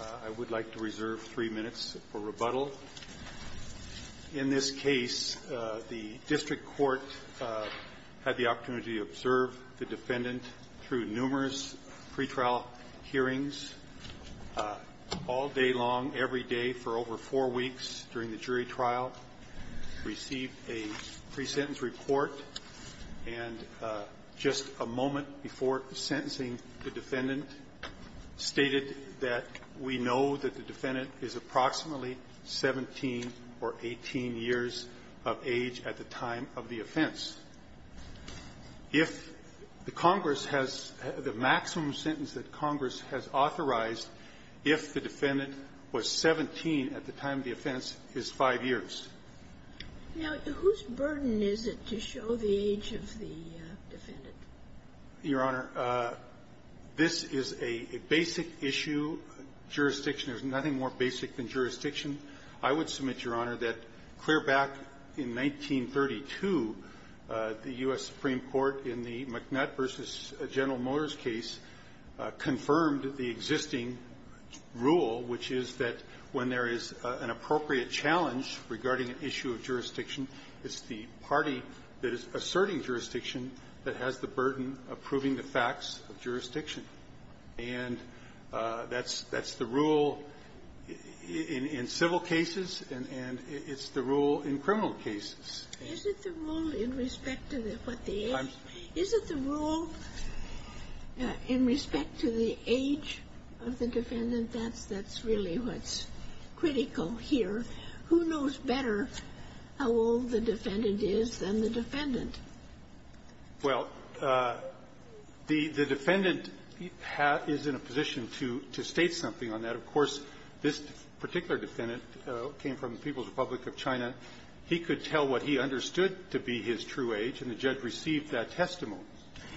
I would like to reserve three minutes for rebuttal. In this case, the district court had the opportunity to observe the defendant through numerous pretrial hearings all day long, every day for over four weeks during the trial. received a pre-sentence report, and just a moment before sentencing, the defendant stated that we know that the defendant is approximately 17 or 18 years of age at the time of the offense. If the Congress has the maximum sentence that Congress has authorized, if the defendant was 17 at the time of the offense is five years. Now, whose burden is it to show the age of the defendant? Your Honor, this is a basic issue. Jurisdiction is nothing more basic than jurisdiction. I would submit, Your Honor, that clear back in 1932, the U.S. Supreme Court in the McNutt v. General Motors case confirmed the existing rule, which is that when there is an appropriate challenge regarding an issue of jurisdiction, it's the party that is asserting jurisdiction that has the burden of proving the facts of jurisdiction. And that's the rule in civil cases, and it's the rule in criminal cases. Is it the rule in respect to what the age? Is it the rule in respect to the age of the defendant? That's really what's critical here. Who knows better how old the defendant is than the defendant? Well, the defendant is in a position to state something on that. Of course, this particular defendant came from the People's Republic of China. He could tell what he understood to be his true age, and the judge received that testimony.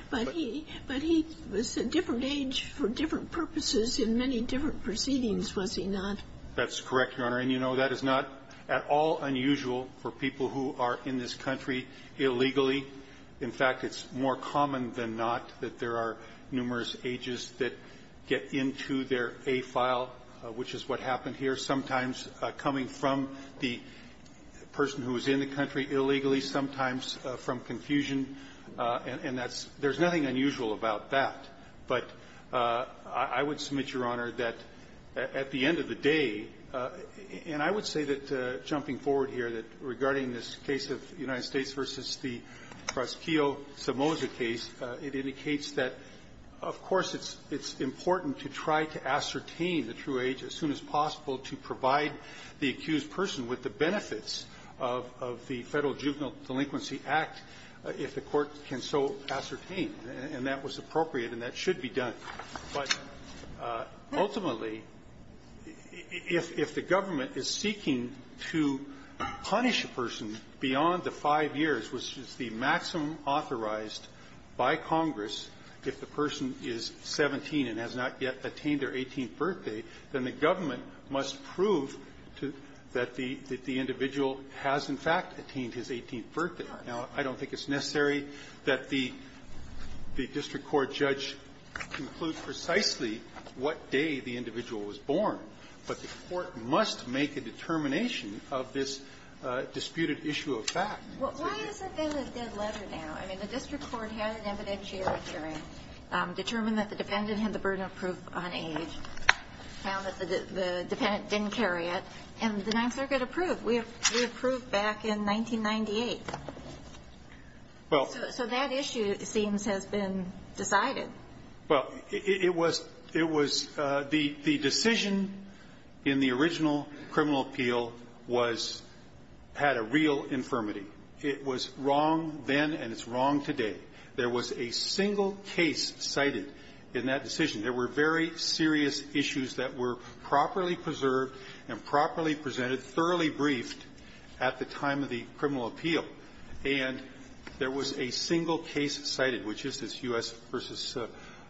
But he was a different age for different purposes in many different proceedings, was he not? That's correct, Your Honor. And, you know, that is not at all unusual for people who are in this country illegally. In fact, it's more common than not that there are numerous ages that get into their A file, which is what happened here, sometimes coming from the person who was in the country illegally, sometimes from confusion, and that's – there's nothing unusual about that. But I would submit, Your Honor, that at the end of the day – and I would say that, jumping forward here, that regarding this case of United States v. the Prosciutto-Samoa case, it indicates that, of course, it's important to try to ascertain the true age as soon as possible to provide the accused person with the benefits of the Federal Juvenile Delinquency Act, if the Court can so ascertain. And that was appropriate, and that should be done. But ultimately, if the government is seeking to punish a person beyond the five years, which is the maximum authorized by Congress, if the person is 17 and has not yet attained their 18th birthday, then the government must prove that the individual has, in fact, attained his 18th birthday. Now, I don't think it's necessary that the district court judge conclude precisely what day the individual was born, but the Court must make a determination of this disputed issue of fact. Well, why has there been a dead letter now? I mean, the district court had an evidentiary hearing, determined that the dependent had the burden of proof on age, found that the dependent didn't carry it, and the Ninth Circuit approved. We approved back in 1998. So that issue, it seems, has been decided. Well, it was – it was – the decision in the original criminal appeal was – had a real infirmity. It was wrong then, and it's wrong today. There was a single case cited in that decision. There were very serious issues that were properly preserved and properly presented, thoroughly briefed at the time of the criminal appeal, and there was a single case cited, which is this U.S. v.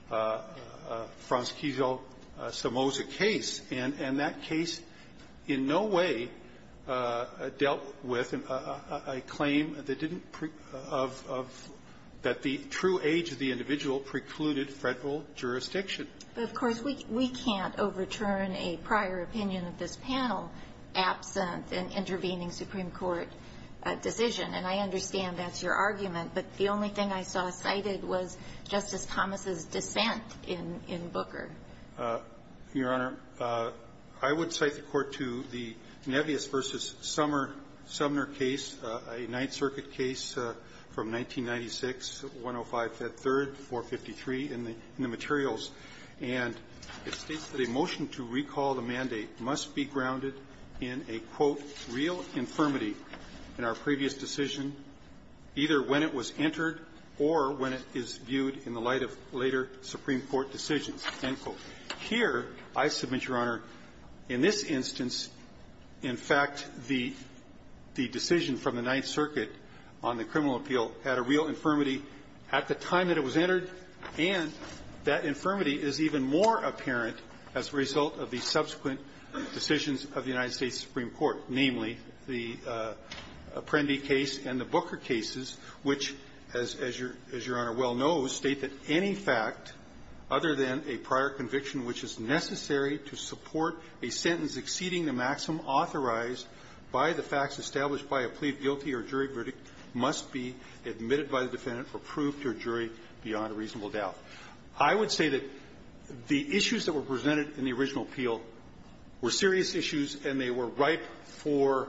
Franz Kizil-Samoza case. And that case in no way dealt with a claim that didn't – of – of – that the true age of the individual precluded federal jurisdiction. But, of course, we can't overturn a prior opinion of this panel absent an intervening Supreme Court decision. And I understand that's your argument, but the only thing I saw cited was Justice Thomas's dissent in Booker. Your Honor, I would cite the Court to the Nebius v. Sumner case, a Ninth Circuit case from 1996, 105-3, 453, in the – in the materials. And it states that a motion to recall the mandate must be grounded in a, quote, real infirmity in our previous decision, either when it was entered or when it is viewed in the light of later Supreme Court decisions, end quote. Here, I submit, Your Honor, in this instance, in fact, the – the decision from the Ninth Circuit on the criminal appeal had a real infirmity at the time that it was entered, and that infirmity is even more apparent as a result of the subsequent decisions of the United States Supreme Court, namely the Apprendi case and the Booker cases, which, as – as Your Honor well knows, state that any fact other than a prior conviction which is necessary to support a sentence exceeding the maximum authorized by the facts established by a plea of guilty or jury verdict must be admitted by the defendant for proof to a jury beyond a reasonable doubt. I would say that the issues that were presented in the original appeal were serious issues, and they were ripe for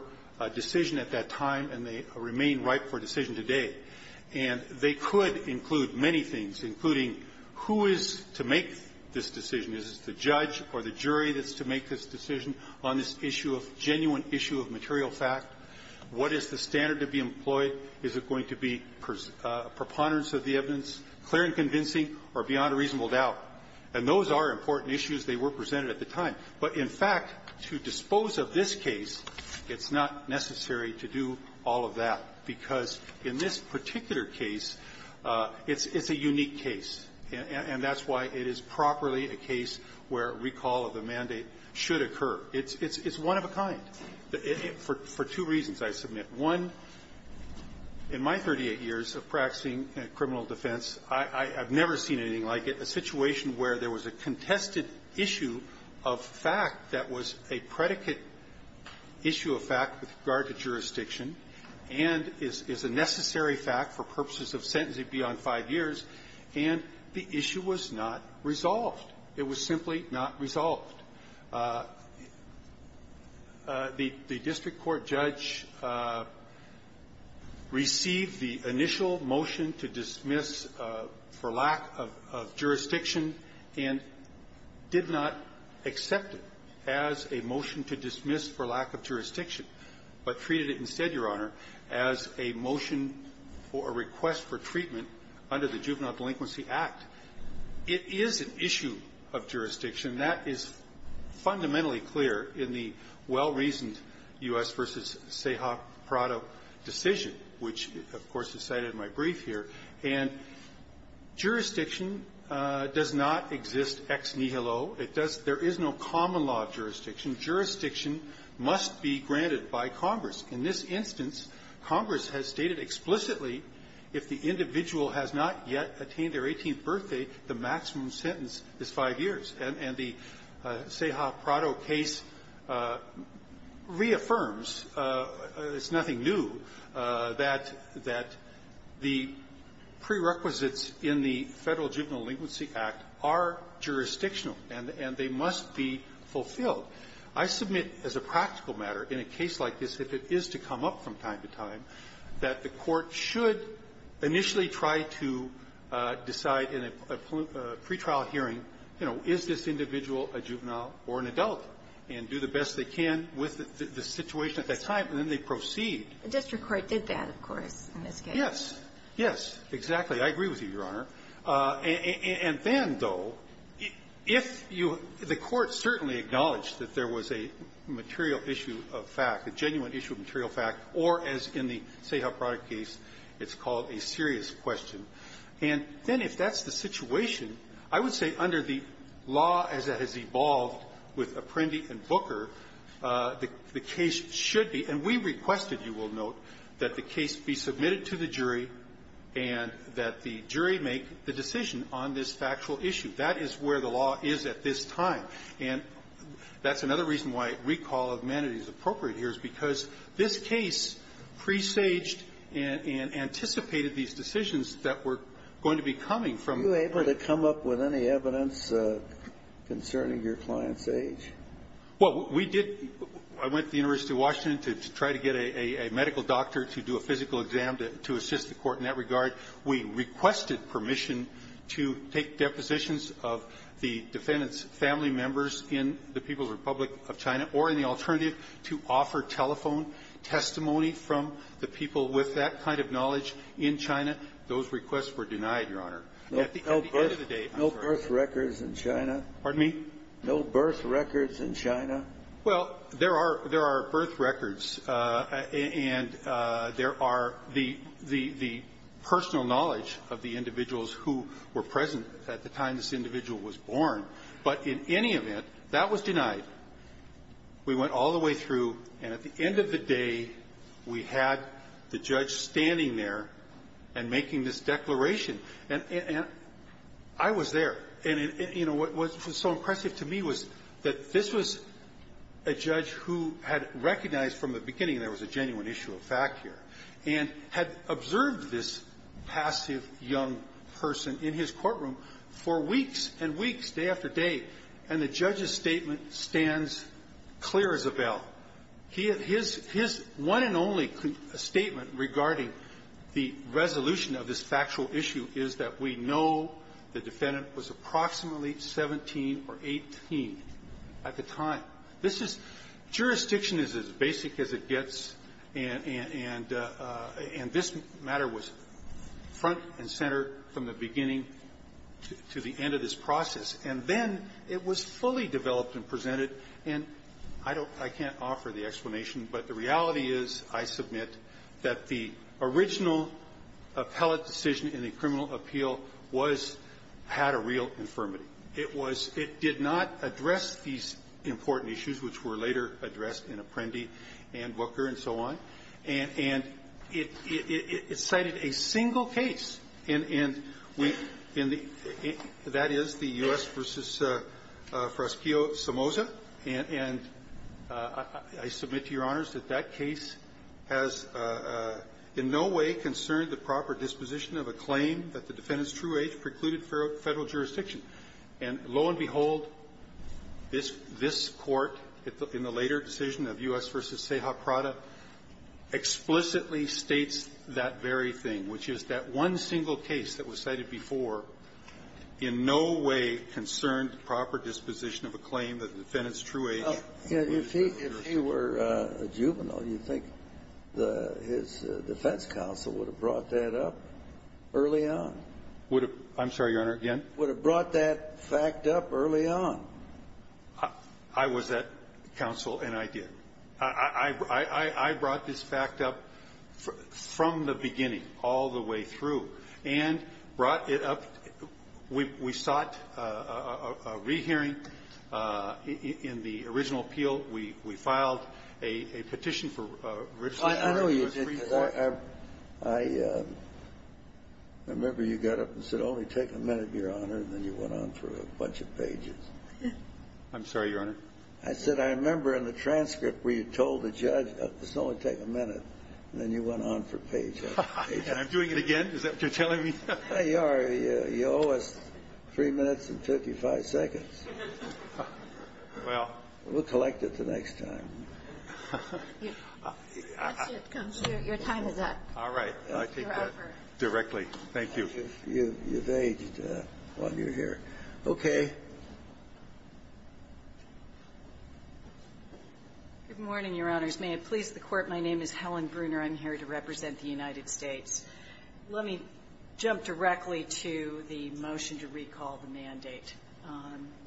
decision at that time, and they remain They include many things, including who is to make this decision. Is it the judge or the jury that's to make this decision on this issue of – genuine issue of material fact? What is the standard to be employed? Is it going to be preponderance of the evidence, clear and convincing, or beyond a reasonable doubt? And those are important issues. They were presented at the time. But, in fact, to dispose of this case, it's not necessary to do all of that, because in this particular case, it's – it's a unique case, and that's why it is properly a case where a recall of the mandate should occur. It's – it's one of a kind, for two reasons, I submit. One, in my 38 years of practicing criminal defense, I've never seen anything like it, a situation where there was a contested issue of fact that was a predicate issue of fact with regard to jurisdiction, and is a necessary fact for purpose of sentencing beyond five years, and the issue was not resolved. It was simply not resolved. The – the district court judge received the initial motion to dismiss for lack of – of jurisdiction and did not accept it as a motion to dismiss for lack of jurisdiction, but treated it instead, Your Honor, as a motion for a request for treatment under the Juvenile Delinquency Act. It is an issue of jurisdiction. That is fundamentally clear in the well-reasoned U.S. v. Seha Prado decision, which, of course, is cited in my brief here. And jurisdiction does not exist ex nihilo. It does – there is no common law of jurisdiction. Jurisdiction must be granted by Congress. In this instance, Congress has stated explicitly, if the individual has not yet attained their 18th birthday, the maximum sentence is five years. And the Seha Prado case reaffirms, it's nothing new, that – that the prerequisites in the Federal Juvenile Delinquency Act are jurisdictional, and – and they must be fulfilled. I submit, as a practical matter, in a case like this, that it's not a case like this if it is to come up from time to time, that the Court should initially try to decide in a pre-trial hearing, you know, is this individual a juvenile or an adult, and do the best they can with the situation at that time, and then they proceed. The district court did that, of course, in this case. Yes. Yes, exactly. I agree with you, Your Honor. And then, though, if you – the issue of fact, a genuine issue of material fact, or, as in the Seha Prado case, it's called a serious question. And then, if that's the situation, I would say under the law as it has evolved with Apprendi and Booker, the case should be – and we requested, you will note, that the case be submitted to the jury and that the jury make the decision on this factual issue. That is where the law is at this time. And that's another reason why recall of manatee is appropriate here, is because this case presaged and anticipated these decisions that were going to be coming from the court. Were you able to come up with any evidence concerning your client's age? Well, we did – I went to the University of Washington to try to get a medical doctor to do a physical exam to assist the Court in that regard. We requested permission to take depositions of the defendant's family members in the People's Republic of China or, in the alternative, to offer telephone testimony from the people with that kind of knowledge in China. Those requests were denied, Your Honor. At the end of the day, I'm sorry. No birth records in China? Pardon me? No birth records in China? Well, there are – there are birth records, and there are the – the – the personal knowledge of the individuals who were present at the time this individual was born. But in any event, that was denied. We went all the way through. And at the end of the day, we had the judge standing there and making this declaration. And I was there. And, you know, what was so impressive to me was that this was a judge who had recognized from the beginning there was a genuine issue of fact here, and had observed this passive young person in his courtroom for weeks and weeks, day after day, and the judge's statement stands clear as a bell. He had his – his one and only statement regarding the resolution of this factual issue is that we know the defendant was approximately 17 or 18 at the time. This is – jurisdiction is as basic as it gets, and – and – and this matter was front and center from the beginning to the end of this process. And then it was fully developed and presented. And I don't – I can't offer the explanation, but the reality is, I submit, that the original appellate decision in the criminal appeal was – had a real infirmity. It was – it did not address these important issues, which were later addressed in Apprendi and Booker and so on. And – and it – it cited a single case in – in the – that is, the U.S. v. Froskio-Samoza. And – and I submit to Your Honors that that case has in no way concerned the proper disposition of a claim that the And lo and behold, this – this Court, in the later decision of U.S. v. Ceja Prada, explicitly states that very thing, which is that one single case that was cited before in no way concerned the proper disposition of a claim that the defendant's true age was 17 or 18. If he – if he were a juvenile, you'd think the – his defense counsel would have brought that up early on. Would have – I'm sorry, Your Honor, again? Would have brought that fact up early on. I was that counsel, and I did. I – I – I brought this fact up from the beginning all the way through, and brought it up – we – we sought a re-hearing in the original appeal. We – we filed a – a petition for registration. I know you did, because I – I – I remember you got up and said, only take a minute, Your Honor, and then you went on for a bunch of pages. I'm sorry, Your Honor? I said, I remember in the transcript where you told the judge, let's only take a minute, and then you went on for pages and pages. I'm doing it again? Is that what you're telling me? You are. You owe us 3 minutes and 55 seconds. Well. We'll collect it the next time. Your time is up. All right. I take that directly. Thank you. You've – you've aged while you're here. Okay. Good morning, Your Honors. May it please the Court, my name is Helen Bruner. I'm here to represent the United States. Let me jump directly to the motion to recall the mandate.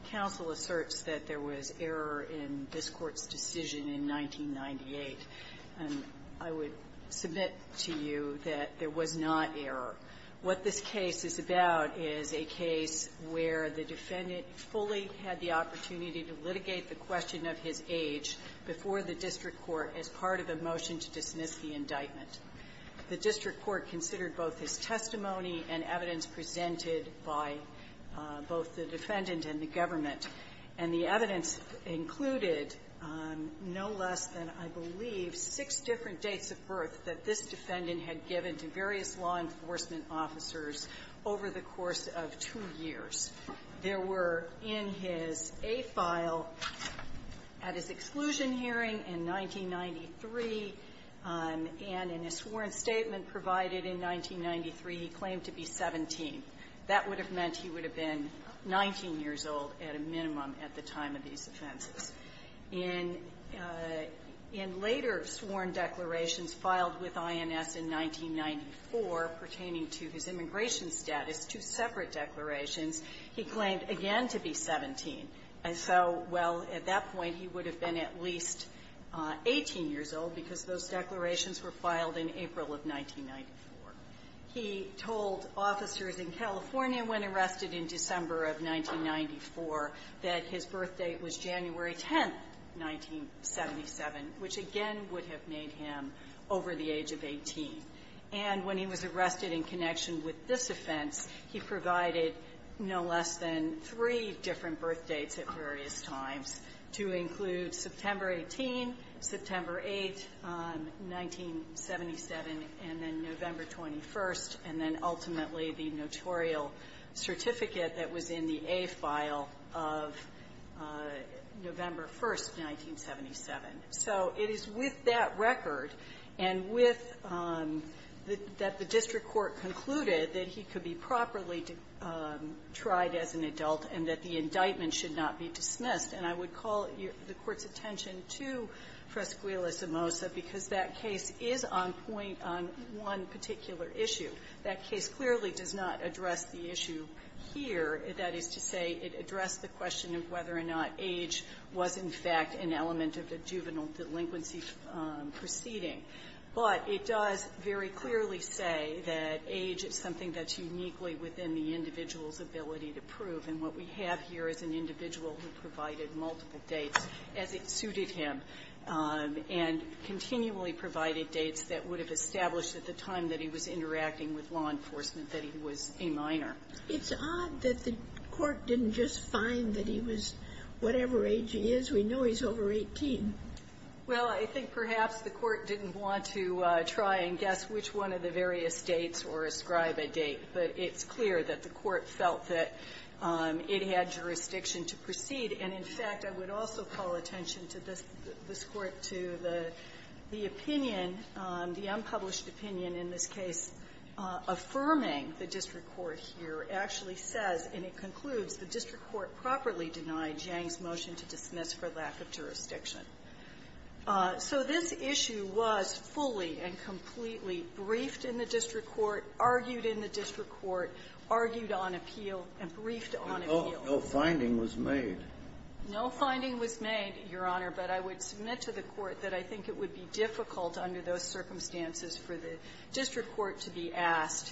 Counsel asserts that there was error in this Court's decision in 1998. And I would submit to you that there was not error. What this case is about is a case where the defendant fully had the opportunity to litigate the question of his age before the district court as part of a motion to dismiss the indictment. The district court considered both his testimony and evidence presented by both the defendant and the government. And the evidence included no less than, I believe, six different dates of birth that this defendant had given to various law enforcement officers over the course of two years. There were, in his A file, at his exclusion hearing in 1993, and in a sworn statement provided in 1993, he claimed to be 17. That would have meant he would have been 19 years old at a minimum at the time of these declarations filed with INS in 1994 pertaining to his immigration status, two separate declarations. He claimed, again, to be 17. And so, well, at that point, he would have been at least 18 years old because those declarations were filed in April of 1994. He told officers in California when arrested in December of 1994 that his birth date was January 10th, 1977, which, again, would have made him over the age of 18. And when he was arrested in connection with this offense, he provided no less than three different birth dates at various times to include September 18, September 8, 1977, and then November 21st, and then, ultimately, the notorial certificate that was in the A file of the district court. So it is with that record and with that the district court concluded that he could be properly tried as an adult and that the indictment should not be dismissed. And I would call the Court's attention to Fresquilla-Samosa because that case is on point on one particular issue. That case clearly does not address the issue here. That is to say, it addressed the question of whether or not age was, in fact, an element of the juvenile delinquency proceeding. But it does very clearly say that age is something that's uniquely within the individual's ability to prove. And what we have here is an individual who provided multiple dates as it suited him and continually provided dates that would have established at the time that he was interacting with law enforcement that he was a minor. It's odd that the Court didn't just find that he was whatever age he is. We know he's over 18. Well, I think perhaps the Court didn't want to try and guess which one of the various dates or ascribe a date, but it's clear that the Court felt that it had jurisdiction to proceed. And, in fact, I would also call attention to this Court to the opinion, the unpublished opinion in this case affirming the district court here actually says, and it concludes, the district court properly denied Jang's motion to dismiss for lack of jurisdiction. So this issue was fully and completely briefed in the district court, argued in the district court, argued on appeal, and briefed on appeal. No finding was made. No finding was made, Your Honor, but I would submit to the Court that I think it would be difficult under those circumstances for the district court to be asked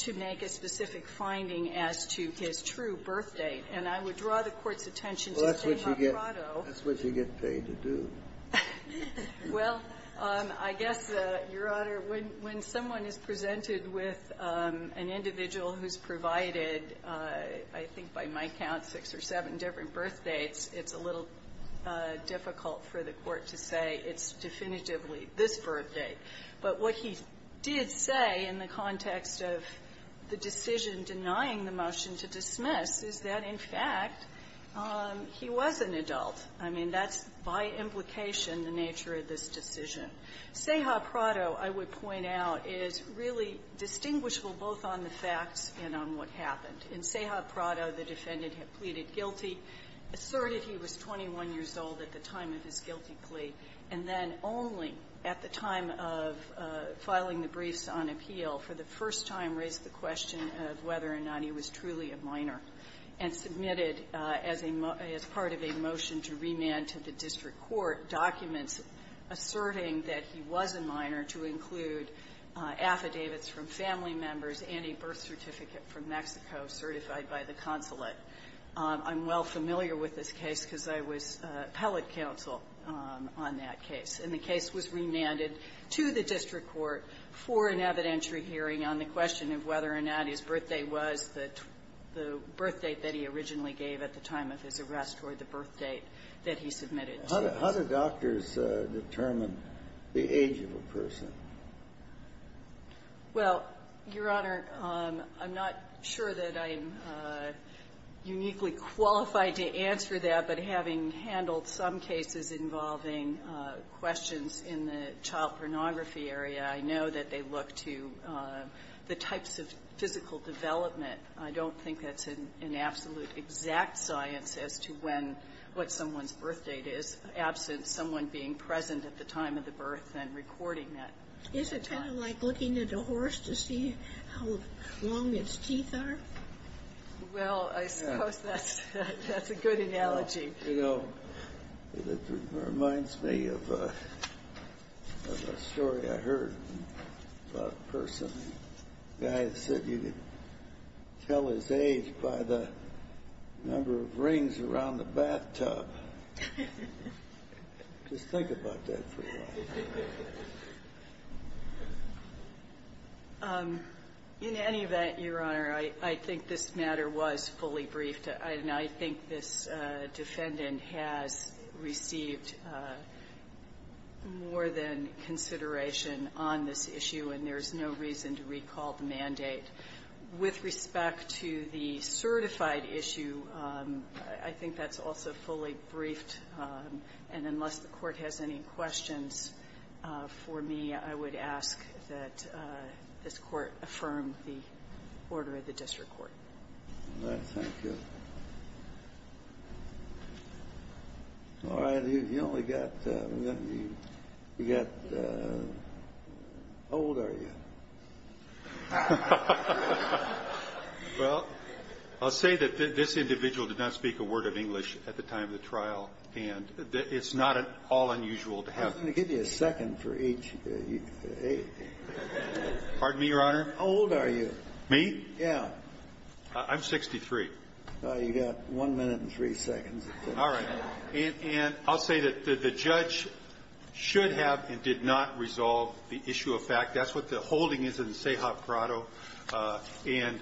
to make a specific finding as to his true birth date. And I would draw the Court's attention to Stamoporado. Well, that's what you get paid to do. Well, I guess, Your Honor, when someone is presented with an individual who's provided, I think by my count, six or seven different birth dates, it's a little difficult for the Court to say it's definitively this birth date. But what he did say in the context of the decision denying the motion to dismiss is that, in fact, he was an adult. I mean, that's by implication the nature of this decision. Sahoprado, I would point out, is really distinguishable both on the facts and on what happened. In Sahoprado, the defendant had pleaded guilty, asserted he was 21 years old at the time of his guilty plea, and then only at the time of filing the briefs on appeal for the first time raised the question of whether or not he was truly a minor and submitted as a part of a motion to remand to the district court documents asserting that he was a minor to include affidavits from family members and a birth certificate from Mexico certified by the consulate. I'm well familiar with this case because I was appellate counsel on that case. And the case was remanded to the district court for an evidentiary hearing on the question of whether or not his birthday was the birth date that he originally gave at the time of his arrest or the birth date that he submitted to. Well, Your Honor, I'm not sure that I'm uniquely qualified to answer that, but having handled some cases involving questions in the child pornography area, I know that they look to the types of physical development. I don't think that's an absolute exact science as to when what someone's birth date is, absent someone being present at the time of the birth and recording that. Is it kind of like looking at a horse to see how long its teeth are? Well, I suppose that's a good analogy. You know, it reminds me of a story I heard about a person, a guy that said he could tell his age by the number of rings around the bathtub. Just think about that for a while. In any event, Your Honor, I think this matter was fully briefed, and I think this defendant has received more than consideration on this issue, and there's no reason to recall the mandate. With respect to the certified issue, I think that's also fully briefed, and unless the Court has any questions for me, I would ask that this Court affirm the order of the district court. All right. Thank you. All right. You only got the old area. Well, I'll say that this individual did not speak a word of English at the time of the trial. And it's not at all unusual to have. I'm going to give you a second for each. Pardon me, Your Honor. How old are you? Me? Yeah. I'm 63. You got one minute and three seconds. All right. And I'll say that the judge should have and did not resolve the issue of fact. That's what the holding is in the Seahawk Grotto. And,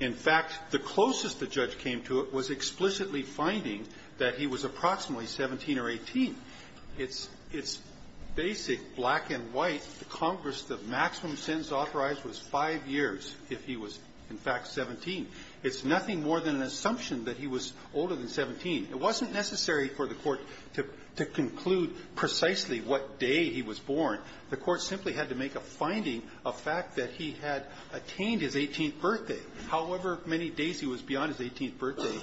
in fact, the closest the judge came to it was explicitly finding that he was approximately 17 or 18. It's basic black and white. Congress, the maximum sentence authorized was five years if he was, in fact, 17. It's nothing more than an assumption that he was older than 17. It wasn't necessary for the Court to conclude precisely what day he was born. The Court simply had to make a finding of fact that he had attained his 18th birthday. However many days he was beyond his 18th birthday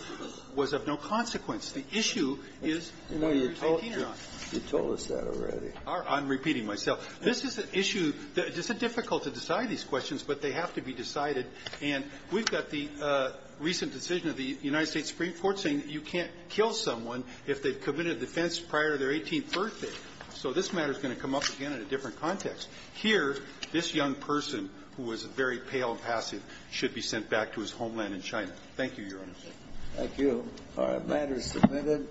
was of no consequence. The issue is whether he was 18 or not. You told us that already. I'm repeating myself. This is an issue that's difficult to decide these questions, but they have to be decided. And we've got the recent decision of the United States Supreme Court saying you can't kill someone if they've committed a defense prior to their 18th birthday. So this matter is going to come up again in a different context. Here, this young person who was very pale and passive should be sent back to his homeland in China. Thank you, Your Honor. Thank you. Our matter is submitted.